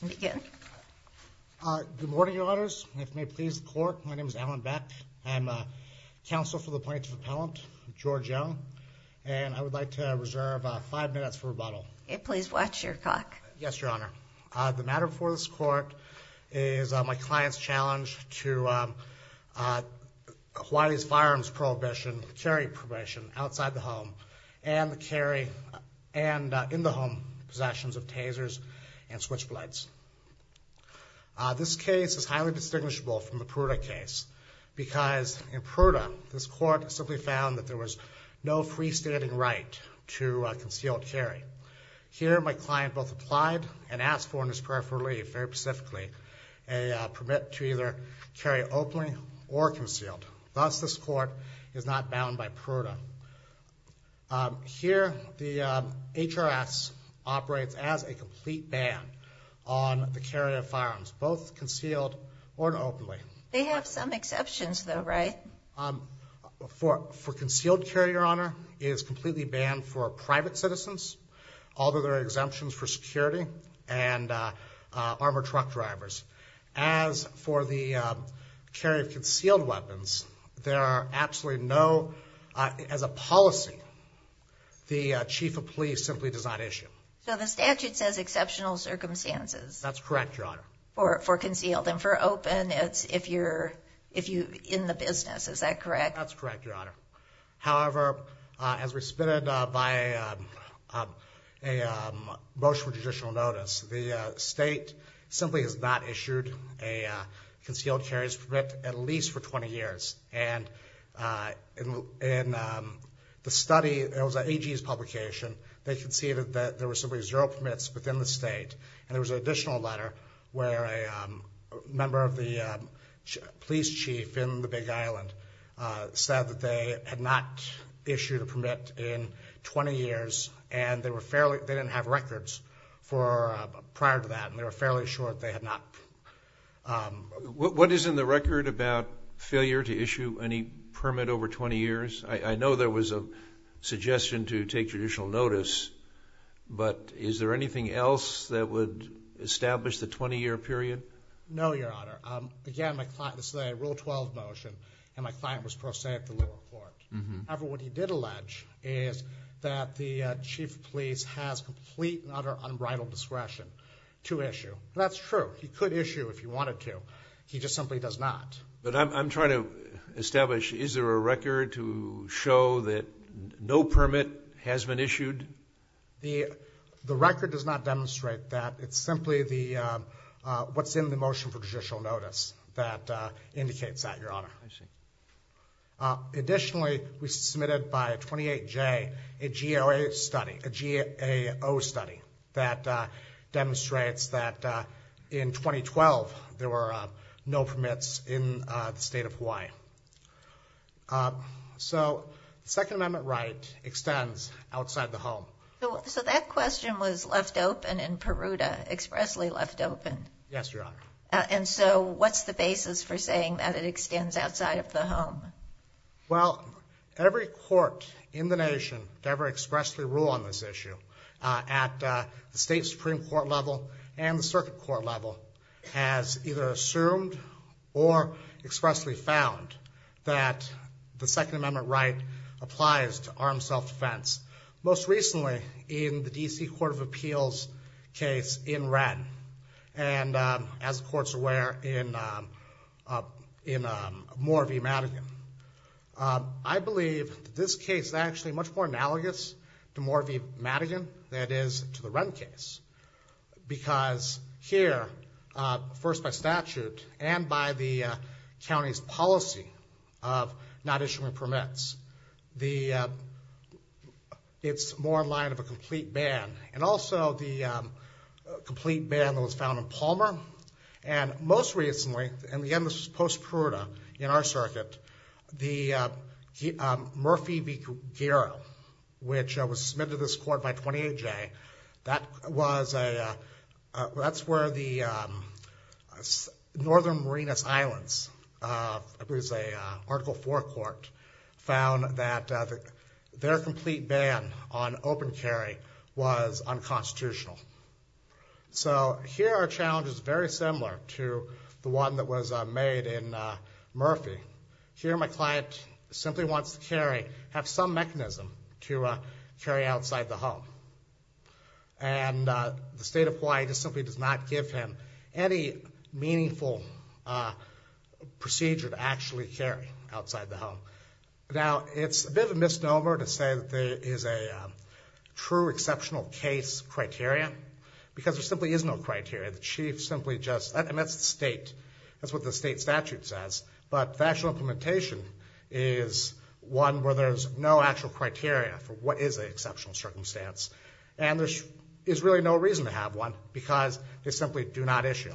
Good morning, Your Honors. If it may please the Court, my name is Alan Beck. I'm counsel for the Appointee to the Appellant, George Young, and I would like to reserve five minutes for rebuttal. Please watch your clock. Yes, Your Honor. The matter before this Court is my client's challenge to Hawaii's firearms prohibition, carry prohibition, outside the home and the carry and in the home possessions of tasers and switchblades. This case is highly distinguishable from the Pruda case because in Pruda, this Court simply found that there was no freestanding right to concealed carry. Here, my client both applied and asked for in his prayer for relief, very specifically, a permit to either carry openly or concealed. Thus, this Court is not bound by Pruda. Here, the HRS operates as a complete ban on the carry of firearms, both concealed or openly. They have some exceptions though, right? For concealed carry, Your Honor, it is completely banned for private citizens, although there are exemptions for security and armored truck drivers. As for the carry of concealed weapons, there are absolutely no, as a policy, the Chief of Police simply does not issue. So the statute says exceptional circumstances. That's correct, Your Honor. For concealed and for open, it's if you're in the business, is that correct? That's correct, Your Honor. However, as we submitted by a motion of judicial notice, the state simply has not issued a concealed carries permit at least for 20 years. And in the study, it was at AG's publication, they conceded that there were simply zero permits within the state. And there was an additional letter where a member of the police chief in the Big Island said that they had not issued a permit in 20 years and they were fairly, they didn't have records for prior to that and they were fairly sure that they had not. What is in the record about failure to issue any permit over 20 years? I know there was a suggestion to take judicial notice, but is there anything else that would establish the 20-year period? No, Your Honor. Again, my client, this is a Rule 12 motion, and my client was pro se at the lower court. However, what he did allege is that the Chief Police has complete and utter unbridled discretion to issue. That's true. He could issue if he wanted to. He just simply does not. But I'm trying to establish, is there a record to show that no permit has been issued? The record does not demonstrate that. It's simply what's in the motion for judicial notice that indicates that, Your Honor. Additionally, we submitted by 28J a GAO study that demonstrates that in 2012 there were no permits in the state of Hawaii. So, the Second Amendment right extends outside the home. So that question was left open in Peruta, expressly left open. Yes, Your Honor. And so, what's the basis for saying that it Every court in the nation to ever expressly rule on this issue at the state Supreme Court level and the circuit court level has either assumed or expressly found that the Second Amendment right applies to armed self-defense. Most recently, in the D.C. Court of Appeals case in Wren, and as the court's aware in Moore v. Madigan. I believe this case is actually much more analogous to Moore v. Madigan than it is to the Wren case. Because here, first by statute and by the county's policy of not issuing permits, it's more in line of a complete ban. And also the ban that was found in Palmer. And most recently, and again this was post-Peruta in our circuit, the Murphy v. Guerrero, which was submitted to this court by 28J, that's where the Northern Marinas Islands, I believe it was an Article 4 court, found that their complete ban on open carry was unconstitutional. So here our challenge is very similar to the one that was made in Murphy. Here my client simply wants to carry, have some mechanism to carry outside the home. And the state of Hawaii just simply does not give him any meaningful procedure to actually carry outside the home. Now it's a bit of a misnomer to say that there is a true exceptional case criteria, because there simply is no criteria. The chief simply just, and that's the state, that's what the state statute says, but the actual implementation is one where there's no actual criteria for what is an exceptional circumstance. And there is really no reason to have one, because they simply do not issue.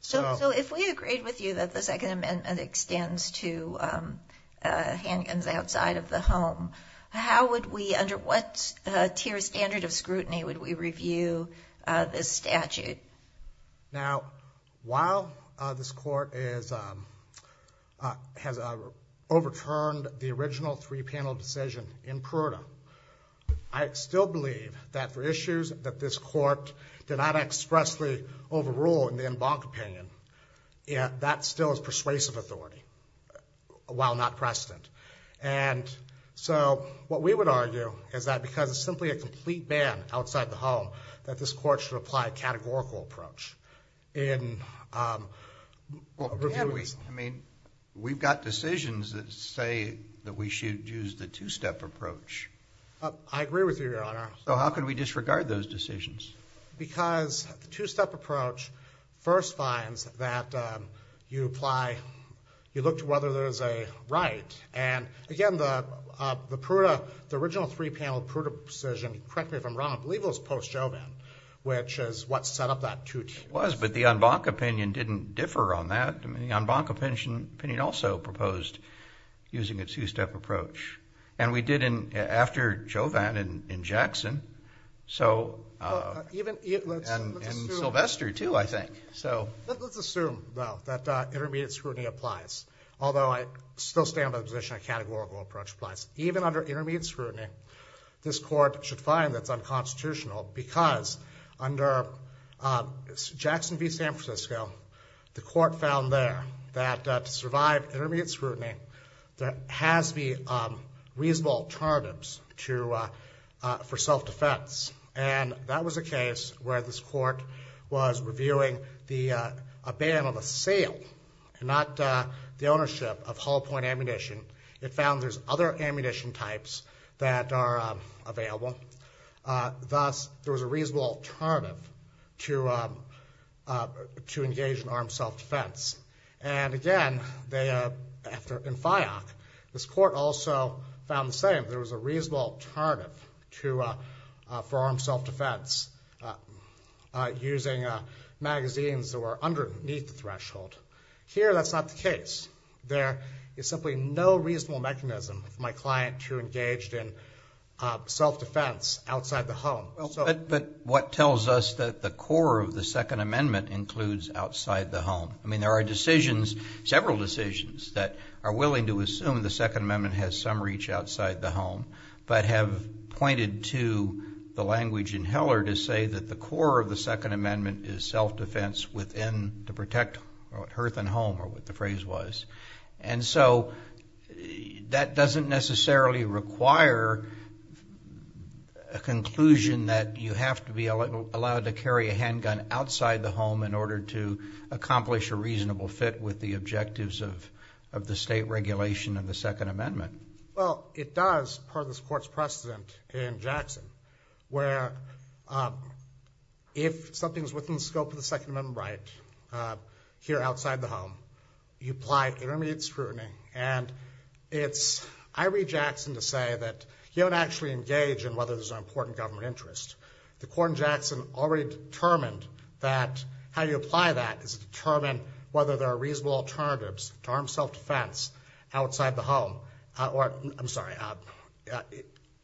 So if we agreed with you that the Second Amendment extends to handguns outside of the home, how would we, under what tier standard of scrutiny, would we review this statute? Now while this court has overturned the original three-panel decision in Pruita, I still believe that for issues that this court did not expressly overrule in the authority, while not precedent. And so what we would argue is that because it's simply a complete ban outside the home, that this court should apply a categorical approach in reviewing. I mean, we've got decisions that say that we should use the two-step approach. I agree with you, your honor. So how can we disregard those decisions? Because the two-step approach first finds that you apply, you look to whether there's a right, and again, the original three-panel Pruita decision, correct me if I'm wrong, I believe it was post-Joven, which is what set up that two tiers. It was, but the Anbanca opinion didn't differ on that. I mean, the Anbanca opinion also proposed using a two-step approach. And we did after Joven and Jackson, and Sylvester too, I think. So let's assume that intermediate scrutiny applies, although I still stand by the position a categorical approach applies. Even under intermediate scrutiny, this court should find that it's unconstitutional because under Jackson v. San Francisco, the court found there that to alternatives to, for self-defense. And that was a case where this court was reviewing the, a ban on the sale and not the ownership of Hall Point ammunition. It found there's other ammunition types that are available. Thus, there was a reasonable alternative to, to engage in armed self-defense. And again, they, after, in FIOC, this court also found the same. There was a reasonable alternative to, for armed self-defense using magazines that were underneath the threshold. Here, that's not the case. There is simply no reasonable mechanism for my client to engage in self-defense outside the home. But what tells us that the core of the I mean, there are decisions, several decisions that are willing to assume the Second Amendment has some reach outside the home, but have pointed to the language in Heller to say that the core of the Second Amendment is self-defense within, to protect Hearth and Home, or what the phrase was. And so that doesn't necessarily require a conclusion that you have to be allowed to carry a handgun outside the home in order to accomplish a reasonable fit with the objectives of, of the state regulation of the Second Amendment. Well, it does, per this court's precedent in Jackson, where if something's within the scope of the Second Amendment right, here outside the home, you apply intermediate scrutiny. And it's, I read Jackson to say that he don't actually engage in whether there's an important government interest. The court in determined that how you apply that is to determine whether there are reasonable alternatives to armed self-defense outside the home, or I'm sorry,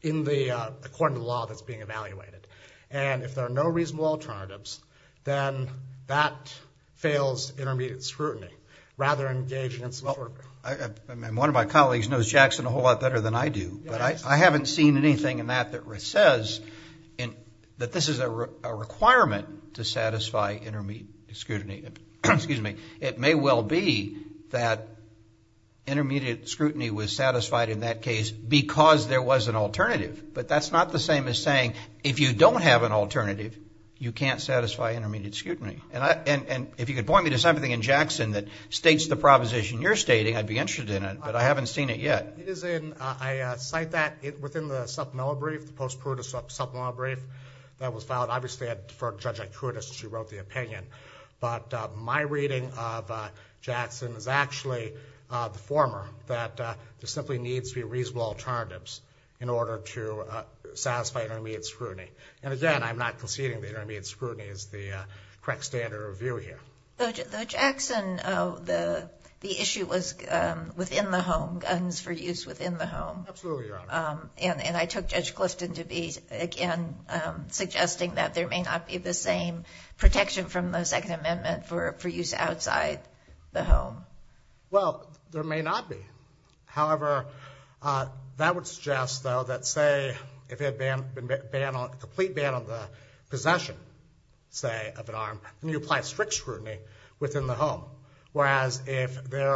in the, according to the law that's being evaluated. And if there are no reasonable alternatives, then that fails intermediate scrutiny rather than engaging in self-defense. One of my colleagues knows Jackson a whole lot better than I do, but I haven't seen anything in that that says that this is a requirement to satisfy intermediate scrutiny. Excuse me. It may well be that intermediate scrutiny was satisfied in that case because there was an alternative, but that's not the same as saying, if you don't have an alternative, you can't satisfy intermediate scrutiny. And if you could point me to something in Jackson that states the proposition you're stating, I'd be interested in it, but I haven't seen it yet. It is in, I cite that within the supplemental brief, the post-pruritus supplemental brief that was filed. Obviously, I defer to Judge Ikoudis, she wrote the opinion, but my reading of Jackson is actually the former, that there simply needs to be reasonable alternatives in order to satisfy intermediate scrutiny. And again, I'm not conceding that intermediate scrutiny is the correct standard of view here. The Jackson, the issue was within the home, guns for use within the home. Absolutely, Your Honor. And I took Judge Clifton to be, again, suggesting that there may not be the same protection from the Second Amendment for use outside the home. Well, there may not be. However, that would suggest, though, that say, if it had been a complete ban on the possession, say, of an arm, then you apply strict scrutiny within the home. Whereas, if there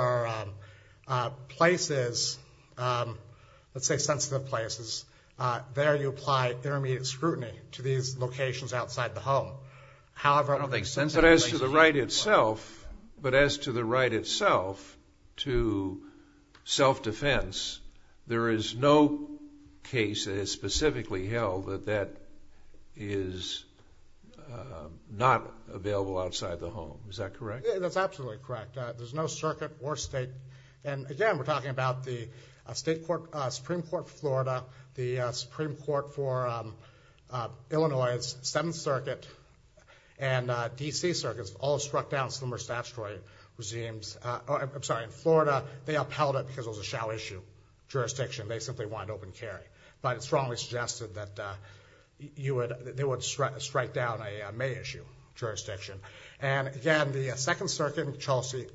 are places, let's say sensitive places, there you apply intermediate scrutiny to these locations outside the home. However, I don't think sensitive places... But as to the right itself, but as to the right itself to self-defense, there is no case that is specifically held that that is not available outside the home. Is that correct? That's absolutely correct. There's no circuit or state. And again, we're talking about the Supreme Court for Florida, the Supreme Court for Florida, they upheld it because it was a shall issue jurisdiction. They simply wanted open carry. But it strongly suggested that they would strike down a may issue jurisdiction. And again, the Second Circuit in Chelsea,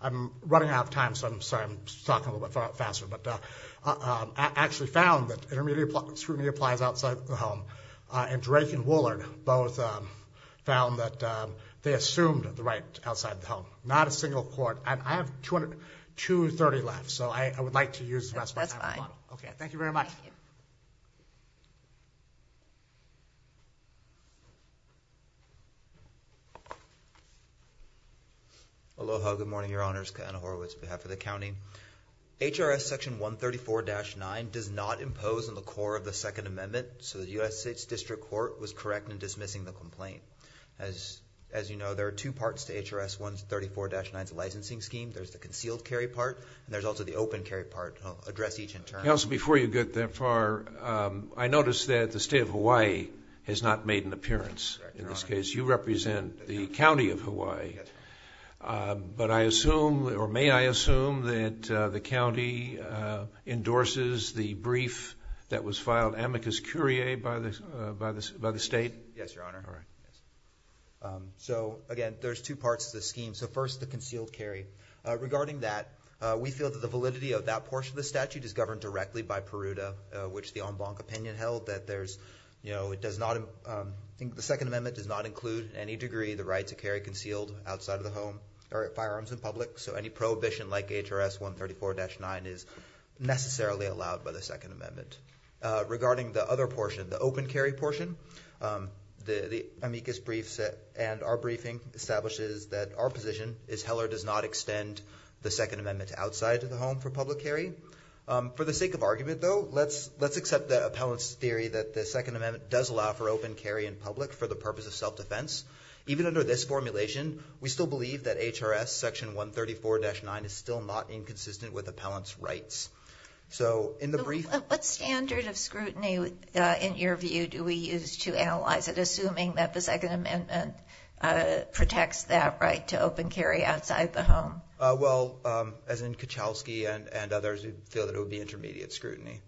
I'm running out of time, so I'm sorry, I'm talking a little bit faster, but actually found that intermediate scrutiny applies outside the home. And Drake and Woollard both found that they assumed the right outside the home. Not a single court. I have 230 left, so I would like to use the rest of my time. That's fine. Okay, thank you very much. Aloha, good morning, your honors. Ken Horowitz, behalf of the county. HRS section 134-9 does not impose on the core of the Second Amendment, so the U.S. State's District Court was correct in there's the concealed carry part, and there's also the open carry part, address each in turn. Counsel, before you get that far, I noticed that the state of Hawaii has not made an appearance. In this case, you represent the county of Hawaii. But I assume, or may I assume, that the county endorses the brief that was filed amicus curiae by the state? Yes, your honor. So again, there's two parts to the scheme. So first, the concealed carry. Regarding that, we feel that the validity of that portion of the statute is governed directly by Peruta, which the en banc opinion held that there's, you know, it does not, I think the Second Amendment does not include any degree the right to carry concealed outside of the home or at firearms in public. So any prohibition like HRS 134-9 is necessarily allowed by the Second Amendment. Regarding the other portion, the open carry portion, the amicus briefs and our briefing establishes that our position is Heller does not extend the Second Amendment to outside of the home for public carry. For the sake of argument though, let's accept the appellant's theory that the Second Amendment does allow for open carry in public for the purpose of self-defense. Even under this formulation, we still believe that HRS section 134-9 is still not inconsistent with appellant's rights. So in the brief... What standard of scrutiny in your view do we use to analyze it, assuming that the Second Amendment protects that right to open carry outside the home? Well, as in Kuchelski and others, we feel that it would be intermediate scrutiny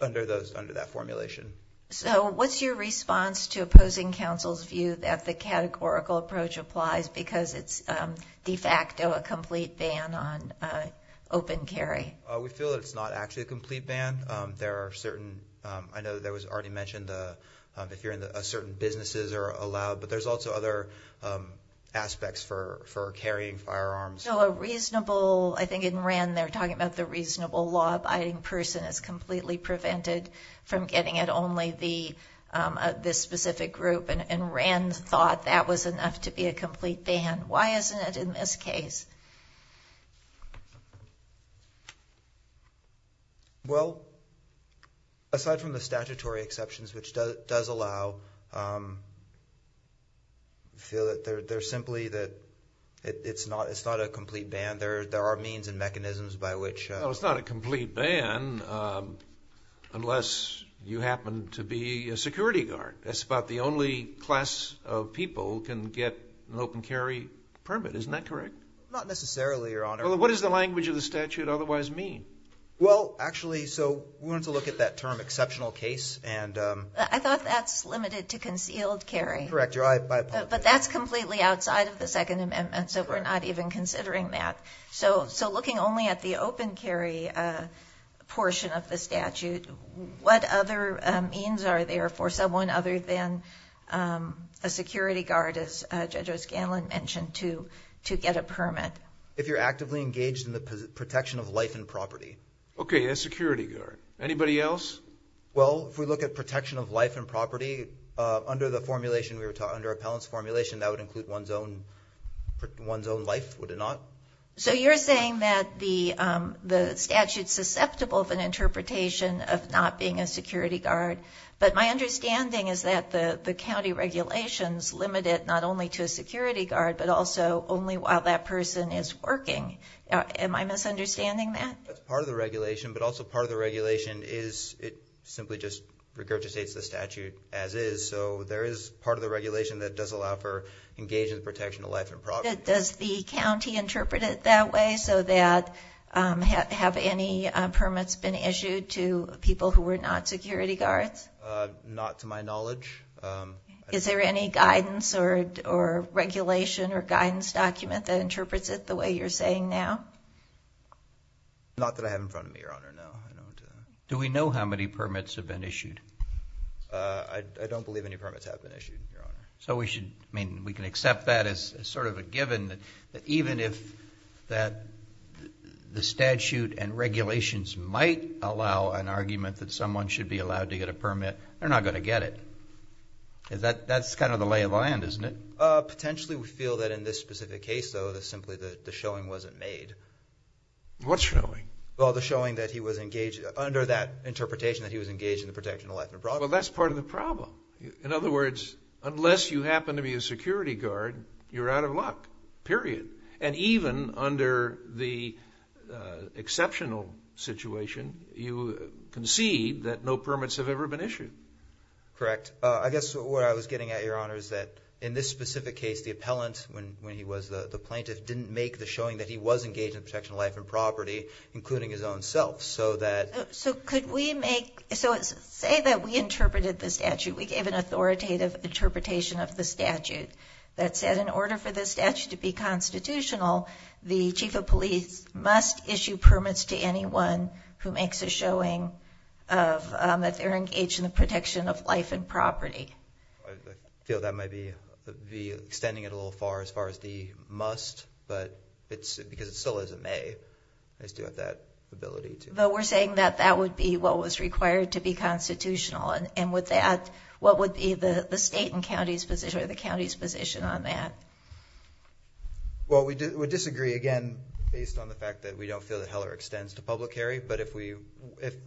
under those, under that formulation. So what's your response to opposing counsel's view that the categorical approach applies because it's de facto a complete ban on open carry? We feel it's not actually a complete ban. There are certain... I know there was already mentioned if you're in a certain businesses are allowed, but there's also other aspects for carrying firearms. So a reasonable, I think in Wren they're talking about the reasonable law-abiding person is completely prevented from getting at only this specific group, and Wren thought that was enough to be a complete ban. Why isn't it in this case? Well, aside from the statutory exceptions, which does allow, feel that they're simply that it's not a complete ban. There are means and mechanisms by which... No, it's not a complete ban unless you happen to be a security guard. That's about the only class of people who can get an open carry permit. Isn't that correct? Not necessarily, Your Honor. Well, what does the language of the statute otherwise mean? Well, actually, so we wanted to look at that term exceptional case and... I thought that's limited to concealed carry. Correct, Your Honor. But that's completely outside of the Second Amendment, so we're not even considering that. So looking only at the open carry portion of the statute, what other means are there for someone other than a security guard, as Judge O'Scanlan mentioned, to get a permit? If you're actively engaged in the protection of life and property. Okay, a security guard. Anybody else? Well, if we look at protection of life and property, under the formulation we were talking, under appellant's formulation, that would include one's own life, would it not? So you're saying that the statute's susceptible of an interpretation of not being a security guard, but my understanding is that the county regulations limit it not only to a security guard, but also only while that person is working. Am I misunderstanding that? That's part of the regulation, but also part of the regulation is it simply just regurgitates the statute as is. So there is part of the regulation that does allow for engaging the protection of life and property. Does the county interpret it that way so that have any permits been issued to people who were not security guards? Not to my knowledge. Is there any guidance or regulation or guidance document that interprets it the way you're saying now? Not that I have in front of me, Your Honor, no. Do we know how many permits have been issued? I don't believe any permits have been issued, Your Honor. So we should, I mean, we can accept that as sort of a given that even if that the statute and regulations might allow an argument that someone should be allowed to get a permit, they're not going to get it. That's kind of the lay of the land, isn't it? Potentially, we feel that in this specific case, though, that simply the showing wasn't made. What's showing? Well, the showing that he was engaged, under that interpretation that he was engaged in the protection of life and property. Well, that's part of the problem. In other words, unless you happen to be a security guard, you're out of luck, period. And even under the exceptional situation, you concede that no permits have ever been issued. Correct. I guess what I was getting at, Your Honor, is that in this specific case, the appellant, when he was the plaintiff, didn't make the showing that he was engaged in the protection of life and property, including his own self, so that... So could we make, so say that we interpreted the statute, we gave an authoritative interpretation of the statute that said in order for the statute to be constitutional, the chief of police must issue permits to anyone who makes a showing that they're engaged in the protection of life and property. I feel that might be extending it a little far as far as the must, but it's because it still is a may. They still have that ability to... Though we're saying that that would be what was required to be constitutional, and with that, what would be the state and county's position or the county's position on that? Well, we disagree, again, based on the fact that we don't feel that Heller extends to public carry, but if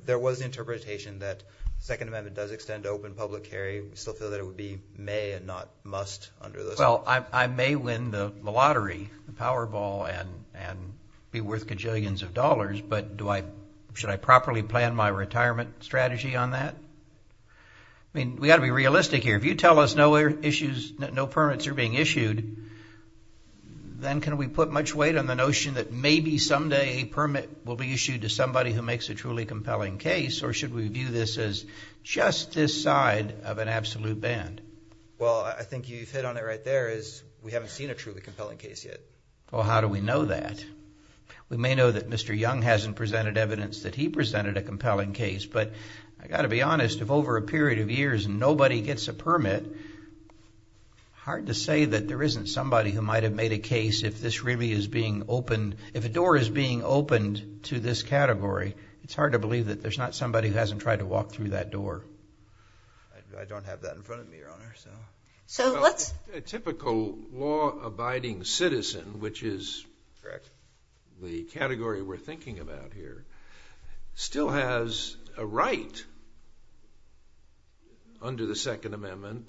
there was interpretation that Second Amendment does extend open public carry, we still feel that it would be may and not must under those... Well, I may win the lottery, the Powerball, and be worth gajillions of dollars, but should I properly plan my retirement strategy on that? I mean, we got to be realistic here. If you tell us no permits are being issued, then can we put much weight on the notion that maybe someday a permit will be issued to somebody who makes a truly compelling case, or should we view this as just this side of an absolute band? Well, I think you've hit on it right there is we haven't seen a truly compelling case yet. Well, how do we know that? We may know that Mr. Young hasn't presented evidence that he presented a compelling case, but I got to be honest, if over a period of years, nobody gets a permit, hard to say that there isn't somebody who might have made a case if this really is being opened. If a door is being opened to this category, it's hard to believe that there's not somebody who hasn't tried to walk through that door. I don't have that in front of me, Your Honor, so... So let's... Typical law-abiding citizen, which is the category we're thinking about here, still has a right under the Second Amendment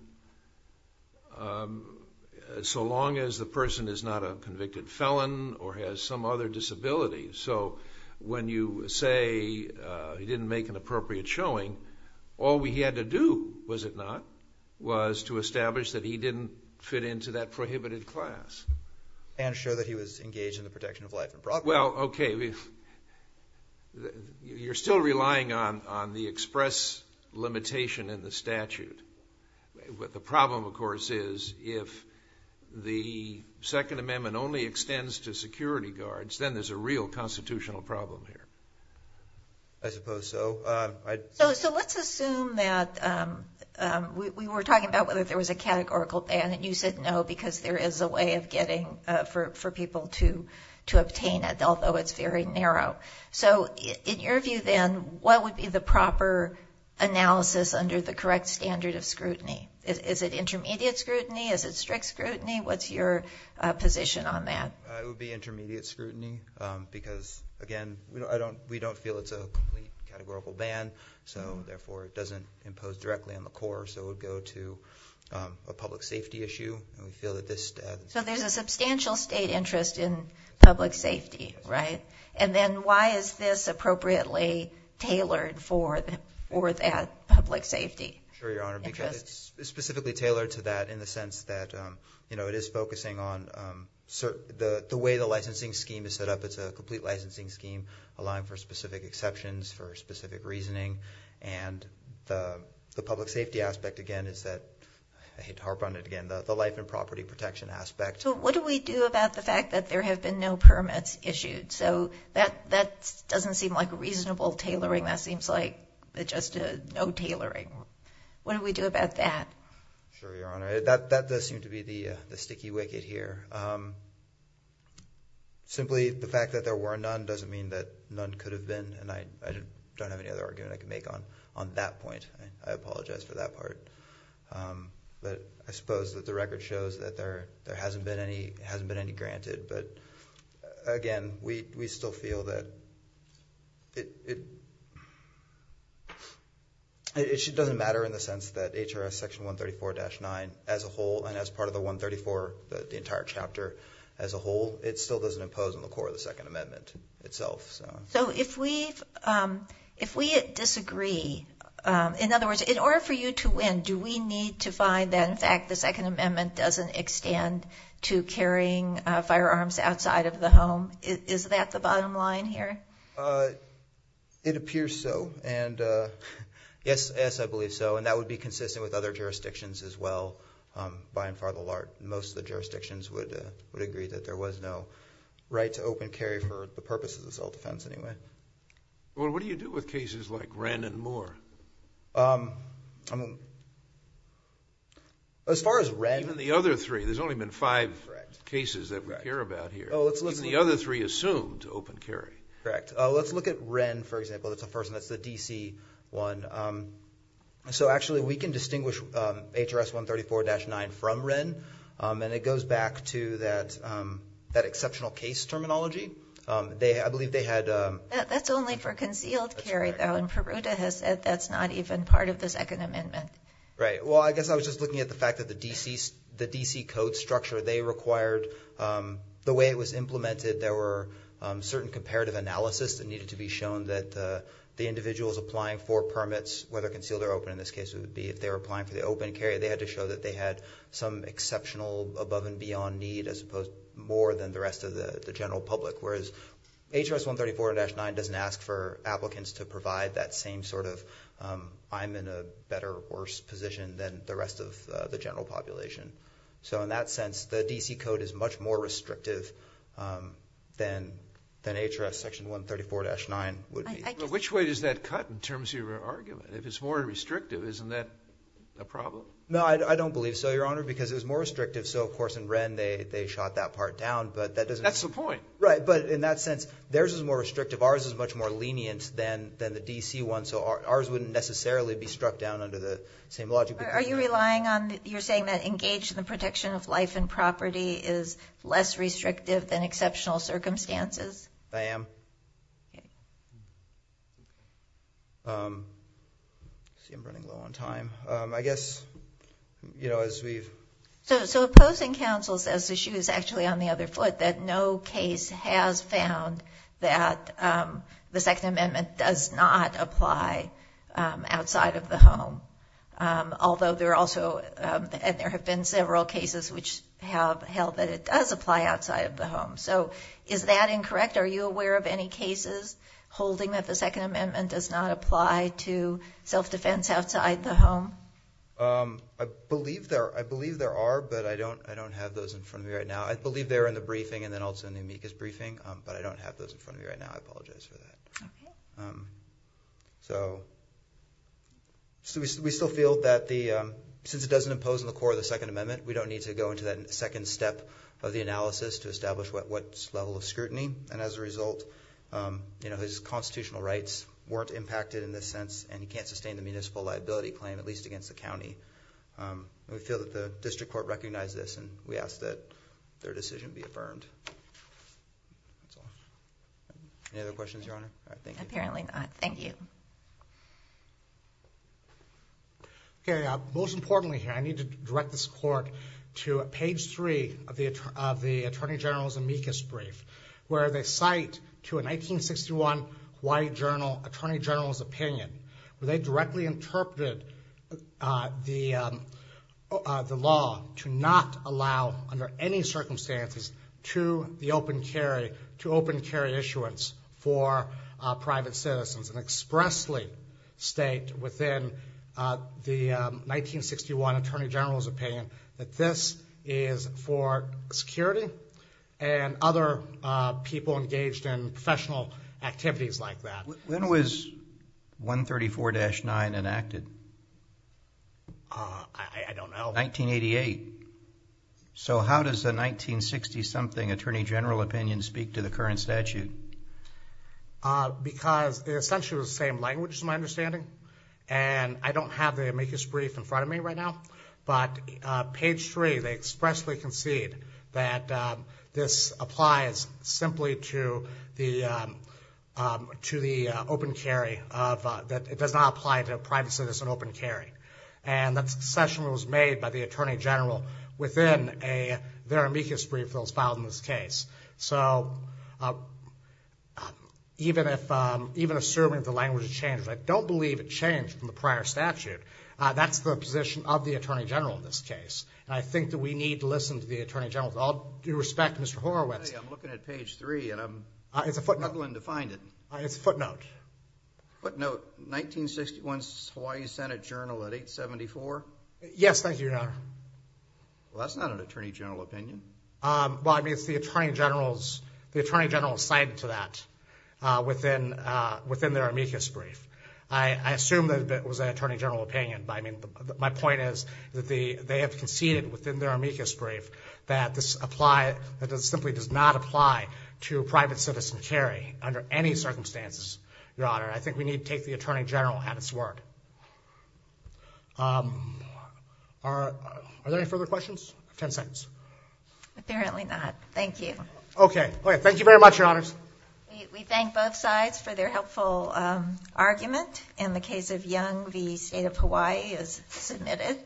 so long as the person is not a convicted felon or has some other disability. So when you say he didn't make an appropriate showing, all we had to do, was it not, was to establish that he didn't fit into that prohibited class. And show that he was engaged in the protection of life and property. Well, okay. You're still relying on the express limitation in the statute. The problem, of course, is if the Second Amendment only extends to security guards, then there's a real constitutional problem here. I suppose so. So let's assume that we were talking about whether there was a categorical ban, you said no, because there is a way of getting for people to obtain it, although it's very narrow. So in your view, then, what would be the proper analysis under the correct standard of scrutiny? Is it intermediate scrutiny? Is it strict scrutiny? What's your position on that? It would be intermediate scrutiny because, again, we don't feel it's a complete categorical ban, so therefore it doesn't impose directly on the court. So it would go to a public safety issue. So there's a substantial state interest in public safety, right? And then why is this appropriately tailored for that public safety? Sure, Your Honor, because it's specifically tailored to that in the sense that it is focusing on the way the licensing scheme is set up. It's a complete licensing scheme allowing for specific exceptions, for specific reasoning. And the public safety aspect, again, is that, I hate to harp on it again, the life and property protection aspect. So what do we do about the fact that there have been no permits issued? So that doesn't seem like a reasonable tailoring. That seems like just a no tailoring. What do we do about that? Sure, Your Honor, that does seem to be the sticky wicket here. Simply the fact that there were none doesn't mean that none could have been. And I don't have any other argument I can make on that point. I apologize for that part. But I suppose that the record shows that there hasn't been any granted. But again, we still feel that it doesn't matter in the sense that HRS Section 134-9 as a whole, and as part of the 134, the entire chapter as a whole, it still doesn't impose on the court of the Second Amendment itself. So if we disagree, in other words, in order for you to win, do we need to find that, in fact, the Second Amendment doesn't extend to carrying firearms outside of the home? Is that the bottom line here? It appears so. And yes, I believe so. And that would be consistent with other jurisdictions as well. By and far, most of the jurisdictions would agree that there was no right to open carry for the purposes of self-defense anyway. Well, what do you do with cases like Wren and Moore? As far as Wren- Even the other three. There's only been five cases that we care about here. Even the other three assumed open carry. Correct. Let's look at Wren, for example. That's the first one. That's the D.C. one. So actually, we can distinguish HRS 134-9 from Wren. And it goes back to that exceptional case terminology. I believe they had- That's only for concealed carry, though. And Peruta has said that's not even part of the Second Amendment. Right. Well, I guess I was just looking at the fact that the D.C. code structure, they required- the way it was implemented, there were certain comparative analysis that needed to be shown that the individuals applying for permits, whether concealed or open in this case, would be if they were applying they had to show that they had some exceptional above and beyond need as opposed to more than the rest of the general public. Whereas HRS 134-9 doesn't ask for applicants to provide that same sort of I'm in a better or worse position than the rest of the general population. So in that sense, the D.C. code is much more restrictive than HRS section 134-9 would be. Which way does that cut in terms of your argument? If it's more restrictive, isn't that a problem? No, I don't believe so, Your Honor, because it was more restrictive. So, of course, in Wren, they shot that part down. But that doesn't- That's the point. Right. But in that sense, theirs is more restrictive. Ours is much more lenient than the D.C. one. So ours wouldn't necessarily be struck down under the same logic. Are you relying on- you're saying that engaged in the protection of life and property is less restrictive than exceptional circumstances? I am. See, I'm running low on time. I guess, you know, as we've- So opposing counsel says the shoe is actually on the other foot, that no case has found that the Second Amendment does not apply outside of the home. Although there are also- and there have been several cases which have held that it does apply outside of the home. So is that incorrect? Are you aware of any cases holding that the Second Amendment does not apply to self-defense outside the home? I believe there are. But I don't have those in front of me right now. I believe they're in the briefing and then also in the amicus briefing. But I don't have those in front of me right now. I apologize for that. So we still feel that the- since it doesn't impose on the core of the Second Amendment, we don't need to go into that second step of the analysis to establish what level of scrutiny. And as a result, you know, constitutional rights weren't impacted in this sense and you can't sustain the municipal liability claim, at least against the county. We feel that the district court recognized this and we ask that their decision be affirmed. Any other questions, Your Honor? All right, thank you. Apparently not. Thank you. Okay, most importantly here, I need to direct this court to page three of the Attorney General's amicus brief, where they cite to a 1961 white journal, Attorney General's opinion, where they directly interpreted the law to not allow under any circumstances to the open carry, to open carry issuance for private citizens and expressly state within the 1961 Attorney General's opinion that this is for security and other people engaged in professional activities like that. When was 134-9 enacted? I don't know. 1988. So how does the 1960 something Attorney General opinion speak to the current statute? Because essentially the same language is my understanding and I don't have the amicus brief in front of me right now, but page three, they expressly concede that this applies simply to the open carry, that it does not apply to a private citizen open carry. And that's a session that was made by the Attorney General within their amicus brief that was filed in this case. So even assuming the language has changed, I don't believe it changed from the prior statute. That's the position of the Attorney General in this case. And I think that we need to listen to the Attorney General. With all due respect, Mr. Horowitz. I'm looking at page three and I'm struggling to find it. It's a footnote. Footnote, 1961 Hawaii Senate Journal at 874. Yes, thank you, Your Honor. Well, that's not an Attorney General opinion. Well, I mean, it's the Attorney General's, the Attorney General's side to that within their amicus brief. I assume that it was an Attorney General opinion. But I mean, my point is that they have conceded within their amicus brief that this apply, that it simply does not apply to private citizen carry under any circumstances, Your Honor. I think we need to take the Attorney General at its word. Are there any further questions? 10 seconds. Apparently not. Thank you. Okay. Thank you very much, Your Honors. We thank both sides for their helpful argument. In the case of Young v. State of Hawaii is submitted.